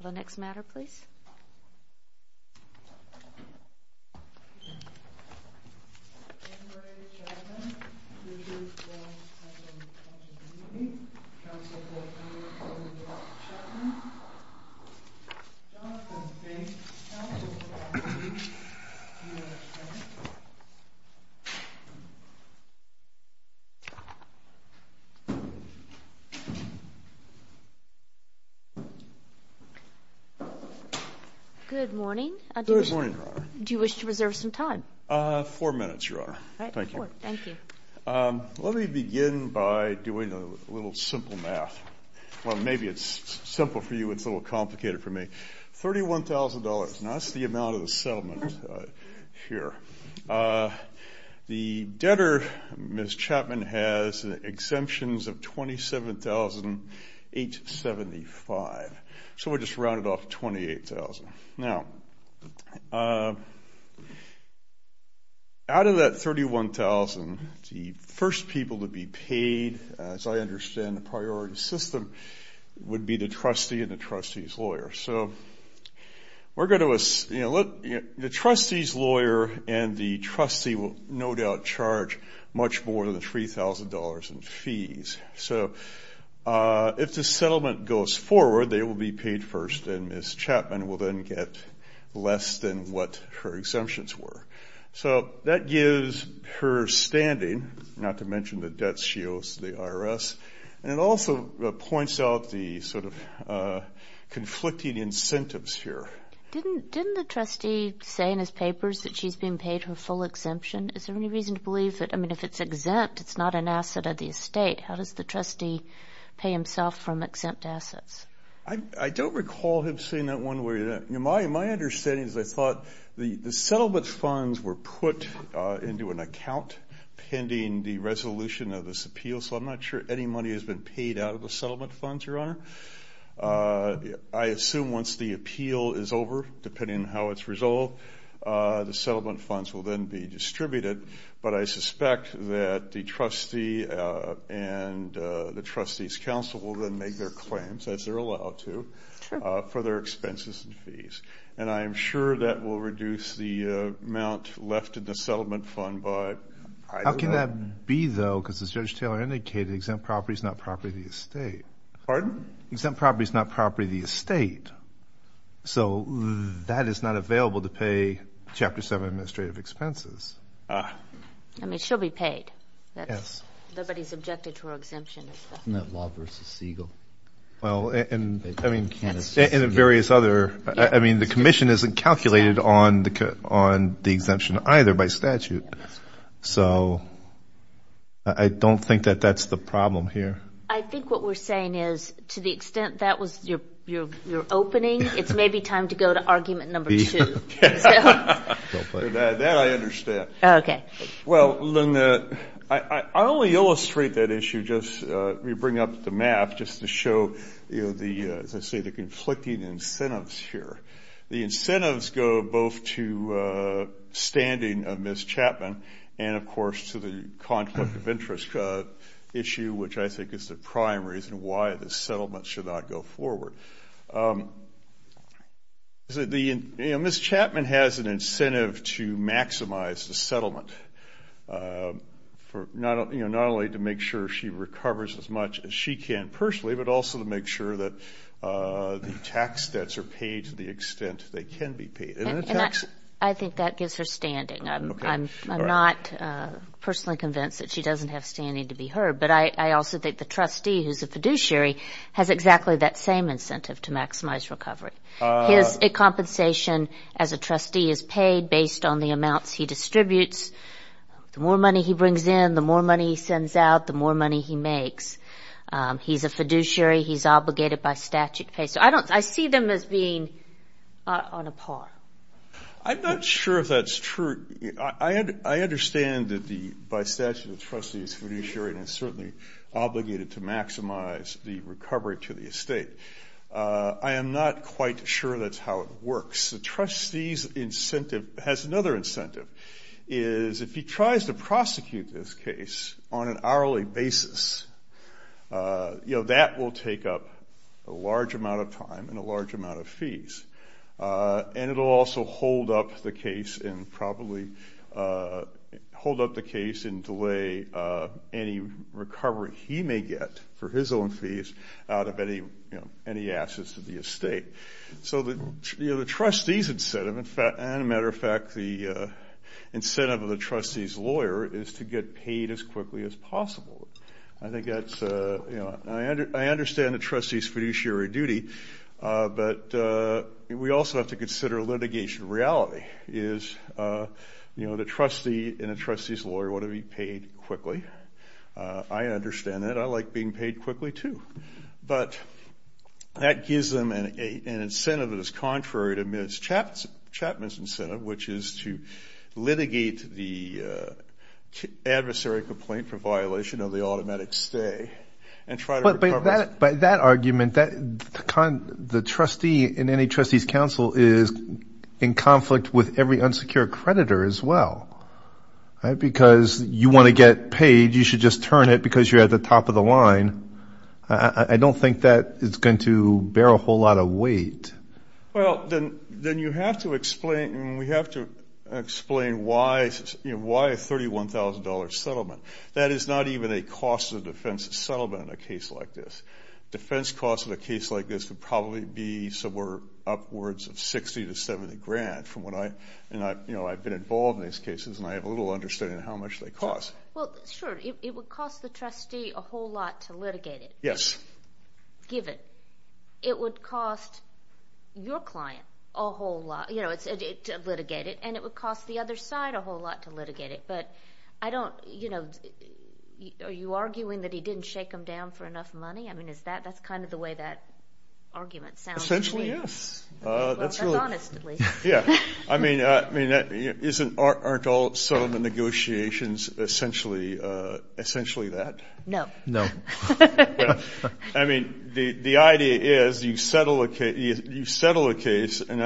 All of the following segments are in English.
THE NEXT MATTER, PLEASE. Good morning. Good morning, Your Honor. Do you wish to reserve some time? Four minutes, Your Honor. All right. Thank you. Let me begin by doing a little simple math. Well, maybe it's simple for you. It's a little complicated for me. $31,000. Now, that's the amount of the settlement here. The debtor, Ms. Chapman, has exemptions of $27,875. So we just rounded off $28,000. Now, out of that $31,000, the first people to be paid, as I understand the priority system, would be the trustee and the trustee's lawyer. So the trustee's lawyer and the trustee will no doubt charge much more than $3,000 in fees. So if the settlement goes forward, they will be paid first, and Ms. Chapman will then get less than what her exemptions were. So that gives her standing, not to mention the debts she owes to the IRS, and it also points out the sort of conflicting incentives here. Didn't the trustee say in his papers that she's being paid her full exemption? Is there any reason to believe that? I mean, if it's exempt, it's not an asset of the estate. How does the trustee pay himself from exempt assets? I don't recall him saying that one way or the other. My understanding is I thought the settlement funds were put into an account pending the resolution of this appeal, so I'm not sure any money has been paid out of the settlement funds, Your Honor. I assume once the appeal is over, depending on how it's resolved, the settlement funds will then be distributed, but I suspect that the trustee and the trustee's counsel will then make their claims, as they're allowed to, for their expenses and fees, and I am sure that will reduce the amount left in the settlement fund by either. How would that be, though, because as Judge Taylor indicated, exempt property is not property of the estate. Pardon? Exempt property is not property of the estate, so that is not available to pay Chapter 7 administrative expenses. I mean, she'll be paid. Yes. Nobody's objected to her exemption. Isn't that Law v. Siegel? Well, and, I mean, in various other... I mean, the commission isn't calculated on the exemption either by statute. So I don't think that that's the problem here. I think what we're saying is to the extent that was your opening, it's maybe time to go to argument number two. That I understand. Okay. Well, I only illustrate that issue just, you bring up the map, just to show, you know, the, as I say, the conflicting incentives here. The incentives go both to standing of Ms. Chapman and, of course, to the conflict of interest issue, which I think is the prime reason why this settlement should not go forward. The, you know, Ms. Chapman has an incentive to maximize the settlement for, you know, not only to make sure she recovers as much as she can personally, but also to make sure that the tax debts are paid to the extent they can be paid. I think that gives her standing. I'm not personally convinced that she doesn't have standing to be heard, but I also think the trustee who's a fiduciary has exactly that same incentive to maximize recovery. His compensation as a trustee is paid based on the amounts he distributes. The more money he brings in, the more money he sends out, the more money he makes. He's a fiduciary. He's obligated by statute to pay. So I don't, I see them as being on a par. I'm not sure if that's true. I understand that the, by statute, the trustee is fiduciary and is certainly obligated to maximize the recovery to the estate. I am not quite sure that's how it works. The trustee's incentive has another incentive, is if he tries to prosecute this case on an hourly basis, that will take up a large amount of time and a large amount of fees. And it will also hold up the case and probably hold up the case and delay any recovery he may get for his own fees out of any assets to the estate. So the trustee's incentive, and, as a matter of fact, the incentive of the trustee's lawyer is to get paid as quickly as possible. I think that's, you know, I understand the trustee's fiduciary duty, but we also have to consider litigation reality, is, you know, the trustee and a trustee's lawyer want to be paid quickly. I understand that. I like being paid quickly too. But that gives them an incentive that is contrary to Chapman's incentive, which is to litigate the adversary complaint for violation of the automatic stay and try to recover it. But by that argument, the trustee in any trustee's counsel is in conflict with every unsecure creditor as well. Because you want to get paid, you should just turn it because you're at the top of the line. I don't think that is going to bear a whole lot of weight. Well, then you have to explain, and we have to explain why a $31,000 settlement. That is not even a cost of defense settlement in a case like this. Defense costs in a case like this would probably be somewhere upwards of $60,000 to $70,000 from what I, you know, I've been involved in these cases, and I have a little understanding of how much they cost. Well, sure, it would cost the trustee a whole lot to litigate it. Yes. Give it. It would cost your client a whole lot, you know, to litigate it, and it would cost the other side a whole lot to litigate it. But I don't, you know, are you arguing that he didn't shake them down for enough money? I mean, is that, that's kind of the way that argument sounds to me. Essentially, yes. Well, that's honest at least. Yeah. I mean, aren't all settlement negotiations essentially that? No. No. I mean, the idea is you settle a case, and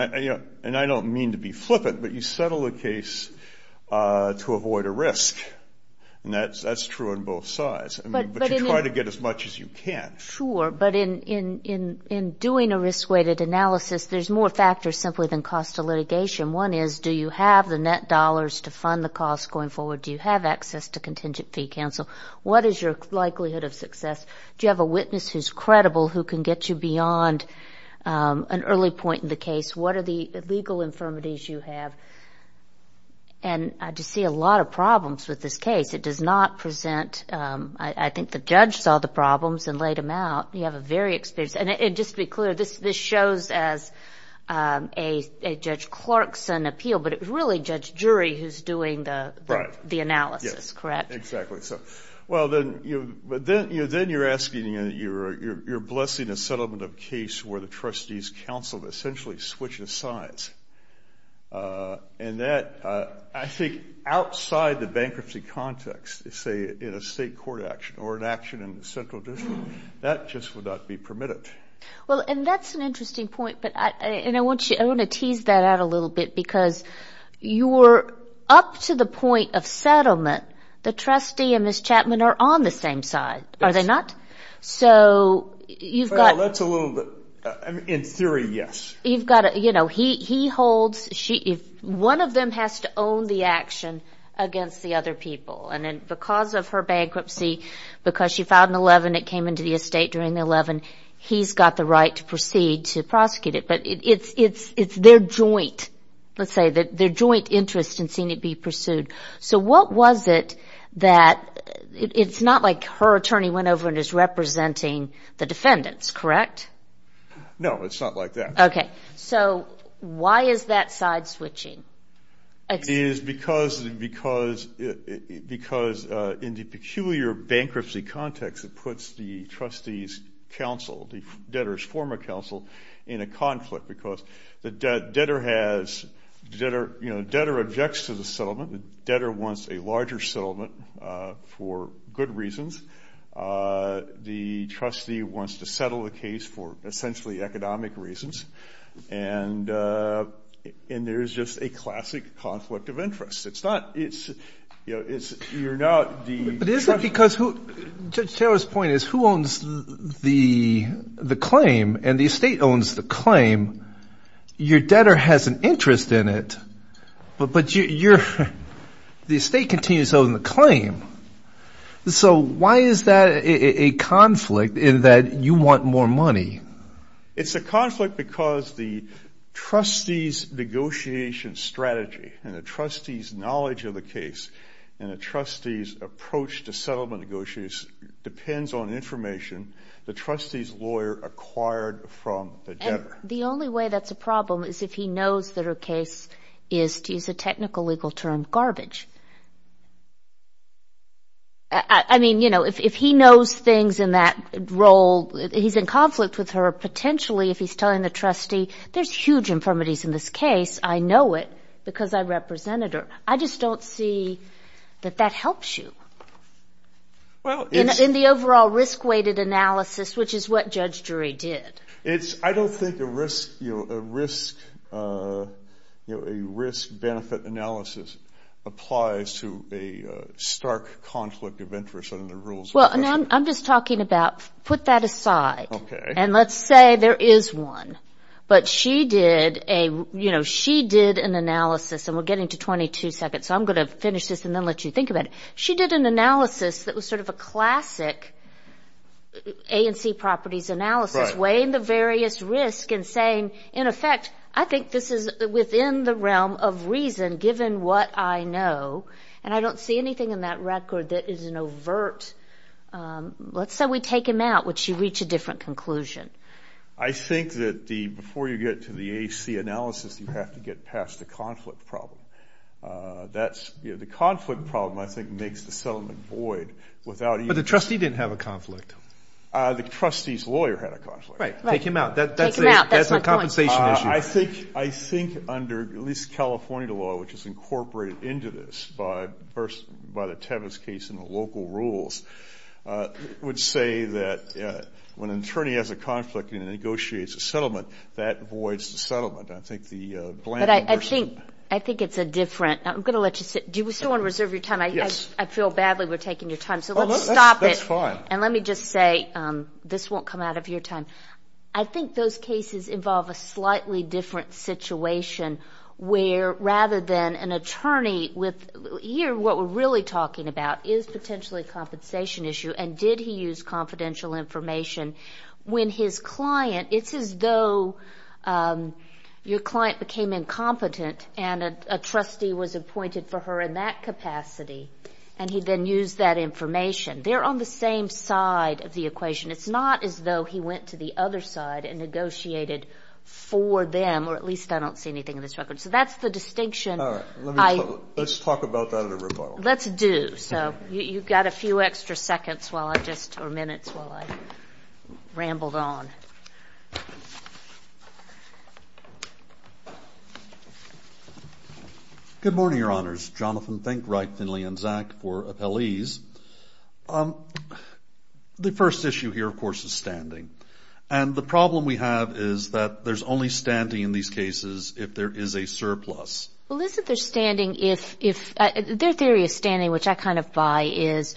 I don't mean to be flippant, but you settle a case to avoid a risk, and that's true on both sides. But you try to get as much as you can. Sure. But in doing a risk-weighted analysis, there's more factors simply than cost of litigation. One is do you have the net dollars to fund the cost going forward? Do you have access to contingent fee counsel? What is your likelihood of success? Do you have a witness who's credible who can get you beyond an early point in the case? What are the legal infirmities you have? And I just see a lot of problems with this case. It does not present. I think the judge saw the problems and laid them out. You have a very experienced. And just to be clear, this shows as a Judge Clarkson appeal, but it's really Judge Jury who's doing the analysis, correct? Right. Yes. Exactly. So, well, then you're blessing a settlement of case where the trustee's counsel essentially switches sides. And that, I think, outside the bankruptcy context, say, in a state court action or an action in the central district, that just would not be permitted. Well, and that's an interesting point. And I want to tease that out a little bit because you're up to the point of settlement. The trustee and Ms. Chapman are on the same side, are they not? Yes. So you've got to – Well, that's a little bit – in theory, yes. He holds – one of them has to own the action against the other people. And because of her bankruptcy, because she filed an 11, it came into the estate during the 11, he's got the right to proceed to prosecute it. But it's their joint, let's say, their joint interest in seeing it be pursued. So what was it that – it's not like her attorney went over and is representing the defendants, correct? No, it's not like that. Okay. So why is that side switching? It is because in the peculiar bankruptcy context, it puts the trustee's counsel, the debtor's former counsel, in a conflict. Because the debtor has – the debtor objects to the settlement. The debtor wants a larger settlement for good reasons. The trustee wants to settle the case for essentially economic reasons. And there's just a classic conflict of interest. It's not – it's – you're not the – But is it because who – Judge Taylor's point is who owns the claim and the estate owns the claim, your debtor has an interest in it, So why is that a conflict in that you want more money? It's a conflict because the trustee's negotiation strategy and the trustee's knowledge of the case and the trustee's approach to settlement negotiations depends on information the trustee's lawyer acquired from the debtor. And the only way that's a problem is if he knows that her case is, to use a technical legal term, garbage. I mean, you know, if he knows things in that role, he's in conflict with her, potentially if he's telling the trustee, there's huge infirmities in this case, I know it because I represented her. I just don't see that that helps you in the overall risk-weighted analysis, which is what Judge Drury did. It's – I don't think a risk – you know, a risk – you know, a risk-benefit analysis applies to a stark conflict of interest under the rules. Well, I'm just talking about – put that aside. Okay. And let's say there is one, but she did a – you know, she did an analysis, and we're getting to 22 seconds, so I'm going to finish this and then let you think about it. She did an analysis that was sort of a classic A&C properties analysis, weighing the various risks and saying, in effect, I think this is within the realm of reason given what I know, and I don't see anything in that record that is an overt – let's say we take him out, would she reach a different conclusion? I think that the – before you get to the A&C analysis, you have to get past the conflict problem. That's – you know, the conflict problem, I think, makes the settlement void. But the trustee didn't have a conflict. The trustee's lawyer had a conflict. Right. Right. Take him out. Take him out. That's my point. That's a compensation issue. I think under at least California law, which is incorporated into this by the Tevis case and the local rules, it would say that when an attorney has a conflict and negotiates a settlement, that voids the settlement. I think the bland version – But I think it's a different – I'm going to let you sit. Do you still want to reserve your time? Yes. I feel badly we're taking your time, so let's stop it. That's fine. And let me just say – this won't come out of your time – I think those cases involve a slightly different situation where rather than an attorney with – here what we're really talking about is potentially a compensation issue, and did he use confidential information when his client – it's as though your client became incompetent and a trustee was appointed for her in that capacity, and he then used that information. They're on the same side of the equation. It's not as though he went to the other side and negotiated for them, or at least I don't see anything in this record. So that's the distinction. All right. Let's talk about that in a review. Let's do. So you've got a few extra seconds or minutes while I rambled on. Good morning, Your Honors. Jonathan, thank Wright, Finley, and Zack for appellees. The first issue here, of course, is standing. And the problem we have is that there's only standing in these cases if there is a surplus. Well, isn't there standing if – their theory of standing, which I kind of buy, is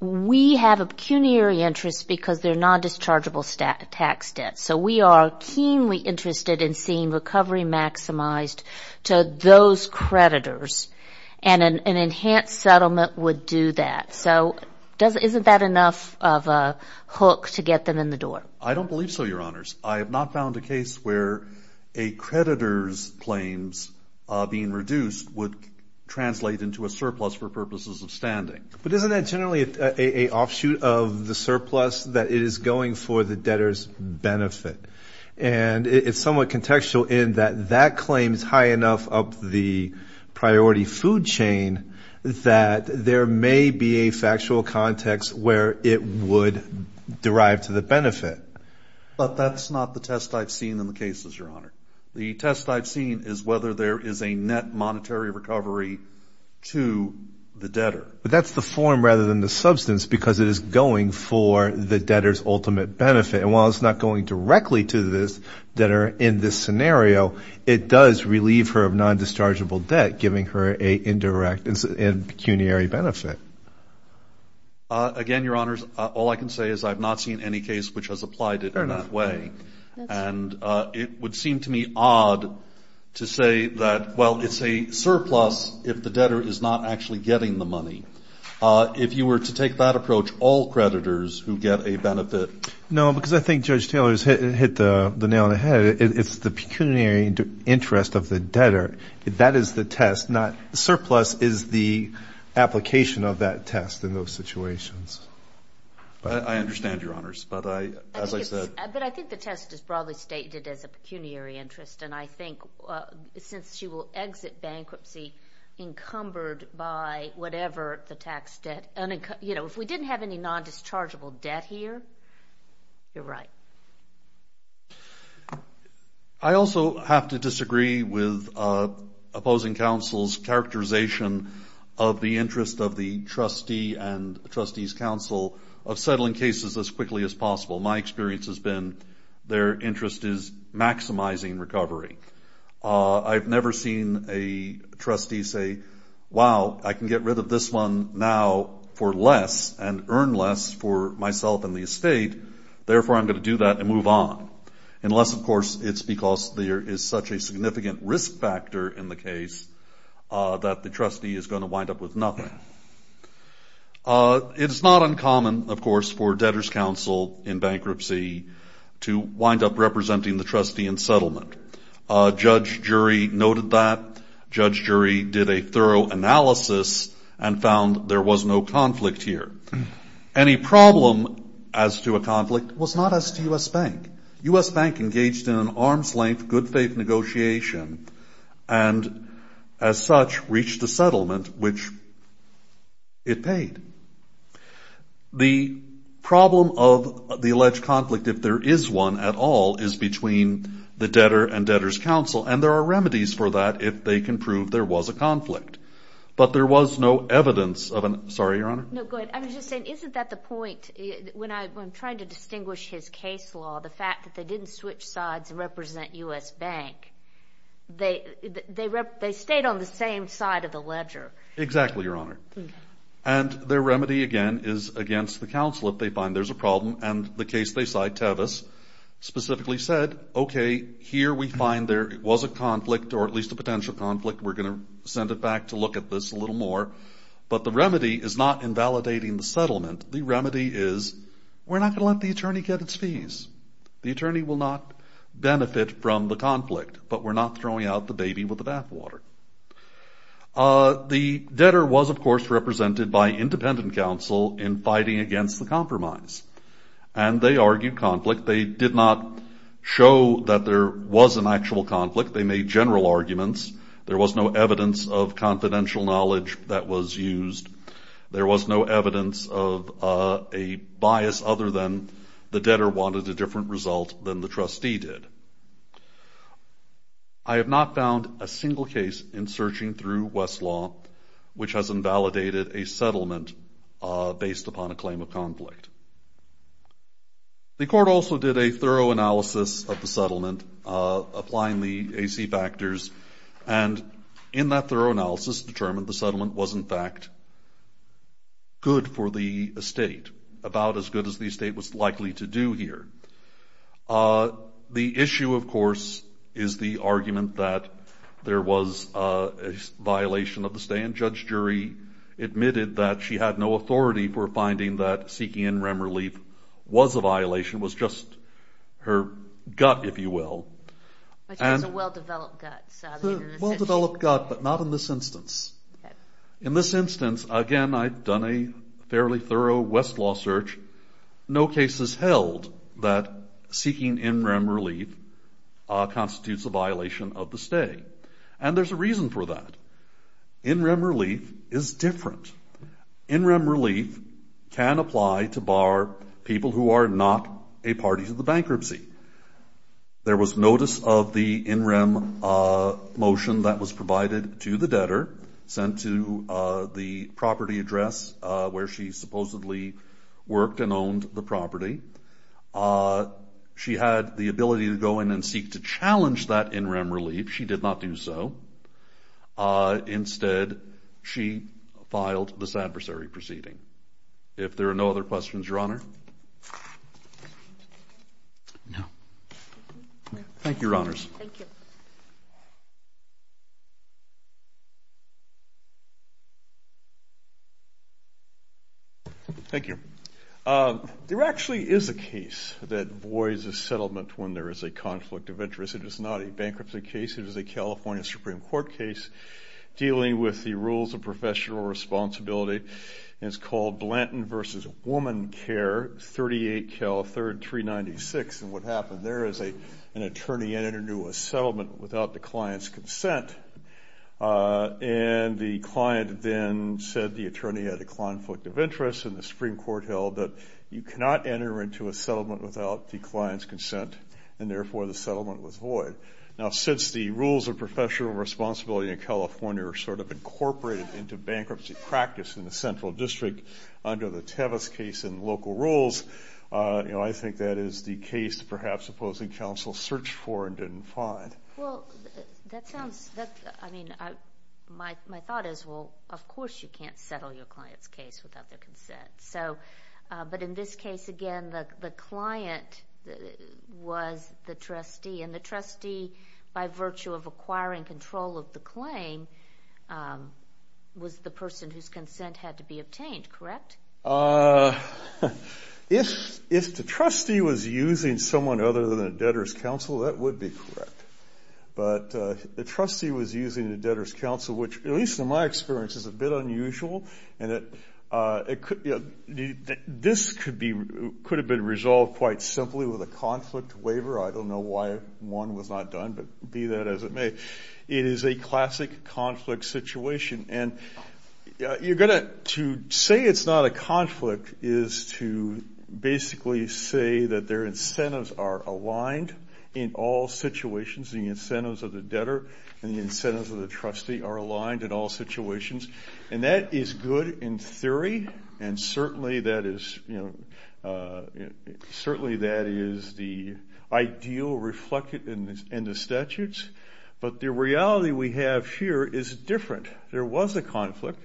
we have a pecuniary interest because they're non-dischargeable tax debts. So we are keenly interested in seeing recovery maximized to those creditors, and an enhanced settlement would do that. So isn't that enough of a hook to get them in the door? I don't believe so, Your Honors. I have not found a case where a creditor's claims being reduced would translate into a surplus for purposes of standing. But isn't that generally an offshoot of the surplus that is going for the debtor's benefit? And it's somewhat contextual in that that claim is high enough up the priority food chain that there may be a factual context where it would derive to the benefit. But that's not the test I've seen in the cases, Your Honor. The test I've seen is whether there is a net monetary recovery to the debtor. But that's the form rather than the substance because it is going for the debtor's ultimate benefit. And while it's not going directly to the debtor in this scenario, it does relieve her of non-dischargeable debt, giving her an indirect pecuniary benefit. Again, Your Honors, all I can say is I've not seen any case which has applied it in that way. And it would seem to me odd to say that, well, it's a surplus if the debtor is not actually getting the money. If you were to take that approach, all creditors who get a benefit. No, because I think Judge Taylor has hit the nail on the head. It's the pecuniary interest of the debtor. That is the test, not surplus is the application of that test in those situations. I understand, Your Honors. But I think the test is broadly stated as a pecuniary interest. And I think since she will exit bankruptcy encumbered by whatever the tax debt, you know, if we didn't have any non-dischargeable debt here, you're right. I also have to disagree with opposing counsel's characterization of the interest of the trustee and the trustee's counsel of settling cases as quickly as possible. My experience has been their interest is maximizing recovery. I've never seen a trustee say, wow, I can get rid of this one now for less and earn less for myself and the estate, therefore I'm going to do that and move on. Unless, of course, it's because there is such a significant risk factor in the case that the trustee is going to wind up with nothing. It is not uncommon, of course, for debtor's counsel in bankruptcy to wind up representing the trustee in settlement. Judge Jury noted that. Judge Jury did a thorough analysis and found there was no conflict here. Any problem as to a conflict was not as to U.S. Bank. U.S. Bank engaged in an arm's length good faith negotiation and as such reached a settlement which it paid. The problem of the alleged conflict, if there is one at all, is between the debtor and debtor's counsel, and there are remedies for that if they can prove there was a conflict. But there was no evidence of an... Sorry, Your Honor. No, go ahead. I was just saying, isn't that the point when I'm trying to distinguish his case law, the fact that they didn't switch sides and represent U.S. Bank? They stayed on the same side of the ledger. Exactly, Your Honor. And their remedy, again, is against the counsel if they find there's a problem, and the case they cite, Tevis, specifically said, okay, here we find there was a conflict or at least a potential conflict. We're going to send it back to look at this a little more. But the remedy is not invalidating the settlement. The remedy is we're not going to let the attorney get its fees. The attorney will not benefit from the conflict, but we're not throwing out the baby with the bathwater. The debtor was, of course, represented by independent counsel in fighting against the compromise, and they argued conflict. They did not show that there was an actual conflict. They made general arguments. There was no evidence of confidential knowledge that was used. There was no evidence of a bias other than the debtor wanted a different result than the trustee did. I have not found a single case in searching through Westlaw which has invalidated a settlement based upon a claim of conflict. The court also did a thorough analysis of the settlement, applying the AC factors, and in that thorough analysis determined the settlement was, in fact, good for the estate, about as good as the estate was likely to do here. The issue, of course, is the argument that there was a violation of the stay, and Judge Jury admitted that she had no authority for finding that seeking in-rem relief was a violation, was just her gut, if you will. Which was a well-developed gut. A well-developed gut, but not in this instance. In this instance, again, I've done a fairly thorough Westlaw search. No case has held that seeking in-rem relief constitutes a violation of the stay, and there's a reason for that. In-rem relief is different. In-rem relief can apply to bar people who are not a party to the bankruptcy. There was notice of the in-rem motion that was provided to the debtor, sent to the property address where she supposedly worked and owned the property. She had the ability to go in and seek to challenge that in-rem relief. She did not do so. Instead, she filed this adversary proceeding. If there are no other questions, Your Honor. No. Thank you, Your Honors. Thank you. Thank you. There actually is a case that avoids a settlement when there is a conflict of interest. It is not a bankruptcy case. It is a California Supreme Court case dealing with the rules of professional responsibility and it's called Blanton v. Woman Care, 38-3396. And what happened there is an attorney entered into a settlement without the client's consent, and the client then said the attorney had a conflict of interest, and the Supreme Court held that you cannot enter into a settlement without the client's consent, and therefore the settlement was void. Now, since the rules of professional responsibility in California are sort of incorporated into bankruptcy practice in the central district under the Tevas case and local rules, you know, I think that is the case perhaps opposing counsel searched for and didn't find. Well, that sounds, I mean, my thought is, well, of course you can't settle your client's case without their consent. So, but in this case, again, the client was the trustee, and the trustee by virtue of acquiring control of the claim was the person whose consent had to be obtained, correct? If the trustee was using someone other than a debtor's counsel, that would be correct. But the trustee was using a debtor's counsel, which at least in my experience is a bit unusual, and this could have been resolved quite simply with a conflict waiver. I don't know why one was not done, but be that as it may, it is a classic conflict situation. And you're going to say it's not a conflict is to basically say that their incentives are aligned in all situations. The incentives of the debtor and the incentives of the trustee are aligned in all situations, and that is good in theory, and certainly that is the ideal reflected in the statutes. But the reality we have here is different. There was a conflict.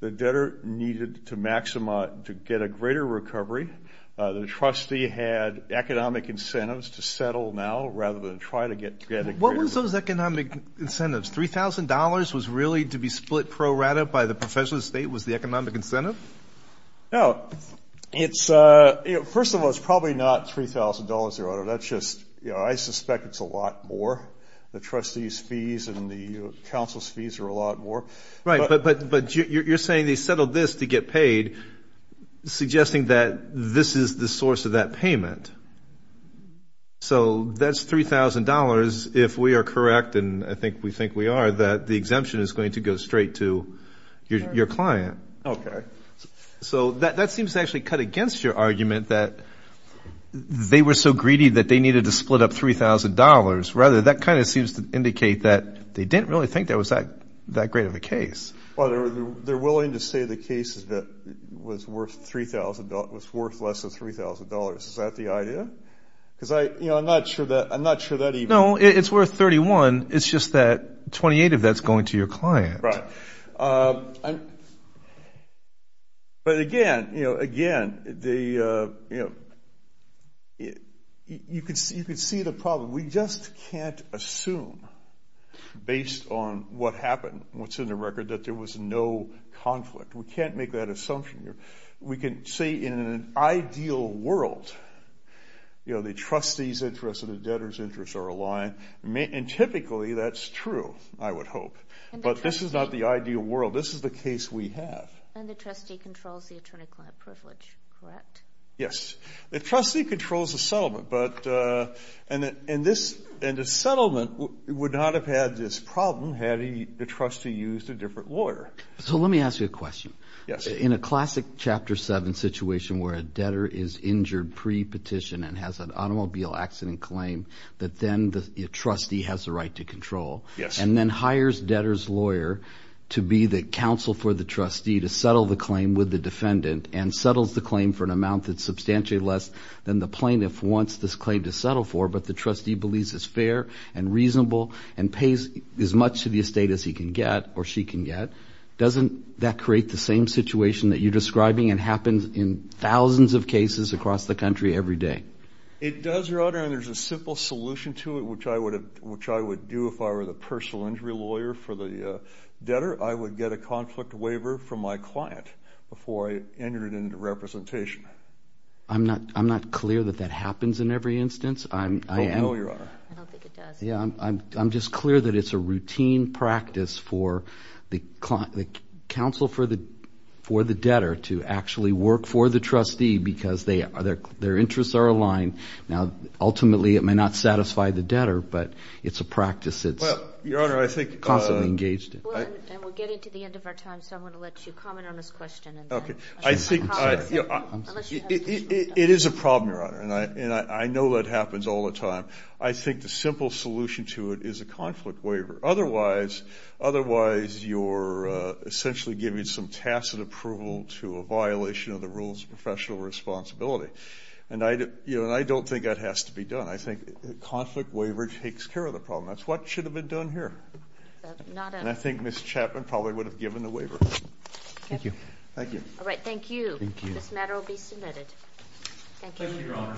The debtor needed to get a greater recovery. The trustee had economic incentives to settle now rather than try to get a greater recovery. What was those economic incentives? $3,000 was really to be split pro rata by the professional estate was the economic incentive? No. First of all, it's probably not $3,000, Your Honor. That's just, you know, I suspect it's a lot more. The trustee's fees and the counsel's fees are a lot more. Right, but you're saying they settled this to get paid, suggesting that this is the source of that payment. So that's $3,000, if we are correct, and I think we think we are, that the exemption is going to go straight to your client. Okay. So that seems to actually cut against your argument that they were so greedy that they needed to split up $3,000. Rather, that kind of seems to indicate that they didn't really think that was that great of a case. Well, they're willing to say the case was worth less than $3,000. Is that the idea? Because, you know, I'm not sure that even – No, it's worth $31,000. It's just that $28,000 of that's going to your client. Right. But, again, you know, again, you could see the problem. We just can't assume, based on what happened, what's in the record, that there was no conflict. We can't make that assumption. We can say in an ideal world, you know, the trustee's interests and the debtor's interests are aligned, and typically that's true, I would hope. But this is not the ideal world. This is the case we have. And the trustee controls the attorney-client privilege, correct? Yes. The trustee controls the settlement, but – and the settlement would not have had this problem had the trustee used a different lawyer. So let me ask you a question. Yes. In a classic Chapter 7 situation where a debtor is injured pre-petition and has an automobile accident claim that then the trustee has the right to control and then hires debtor's lawyer to be the counsel for the trustee to settle the claim with the defendant and settles the claim for an amount that's substantially less than the plaintiff wants this claim to settle for, but the trustee believes is fair and reasonable and pays as much to the estate as he can get or she can get, doesn't that create the same situation that you're describing and happens in thousands of cases across the country every day? It does, Your Honor, and there's a simple solution to it, which I would do if I were the personal injury lawyer for the debtor. I would get a conflict waiver from my client before I entered it into representation. I'm not clear that that happens in every instance. Oh, no, Your Honor. I don't think it does. I'm just clear that it's a routine practice for the counsel for the debtor to actually work for the trustee because their interests are aligned. Now, ultimately it may not satisfy the debtor, but it's a practice that's constantly engaged in. Well, and we're getting to the end of our time, so I'm going to let you comment on this question. Okay. It is a problem, Your Honor, and I know that happens all the time. I think the simple solution to it is a conflict waiver. Otherwise, you're essentially giving some tacit approval to a violation of the rules of professional responsibility, and I don't think that has to be done. I think a conflict waiver takes care of the problem. That's what should have been done here, and I think Ms. Chapman probably would have given the waiver. Thank you. Thank you. All right, thank you. This matter will be submitted. Thank you. Thank you, Your Honor.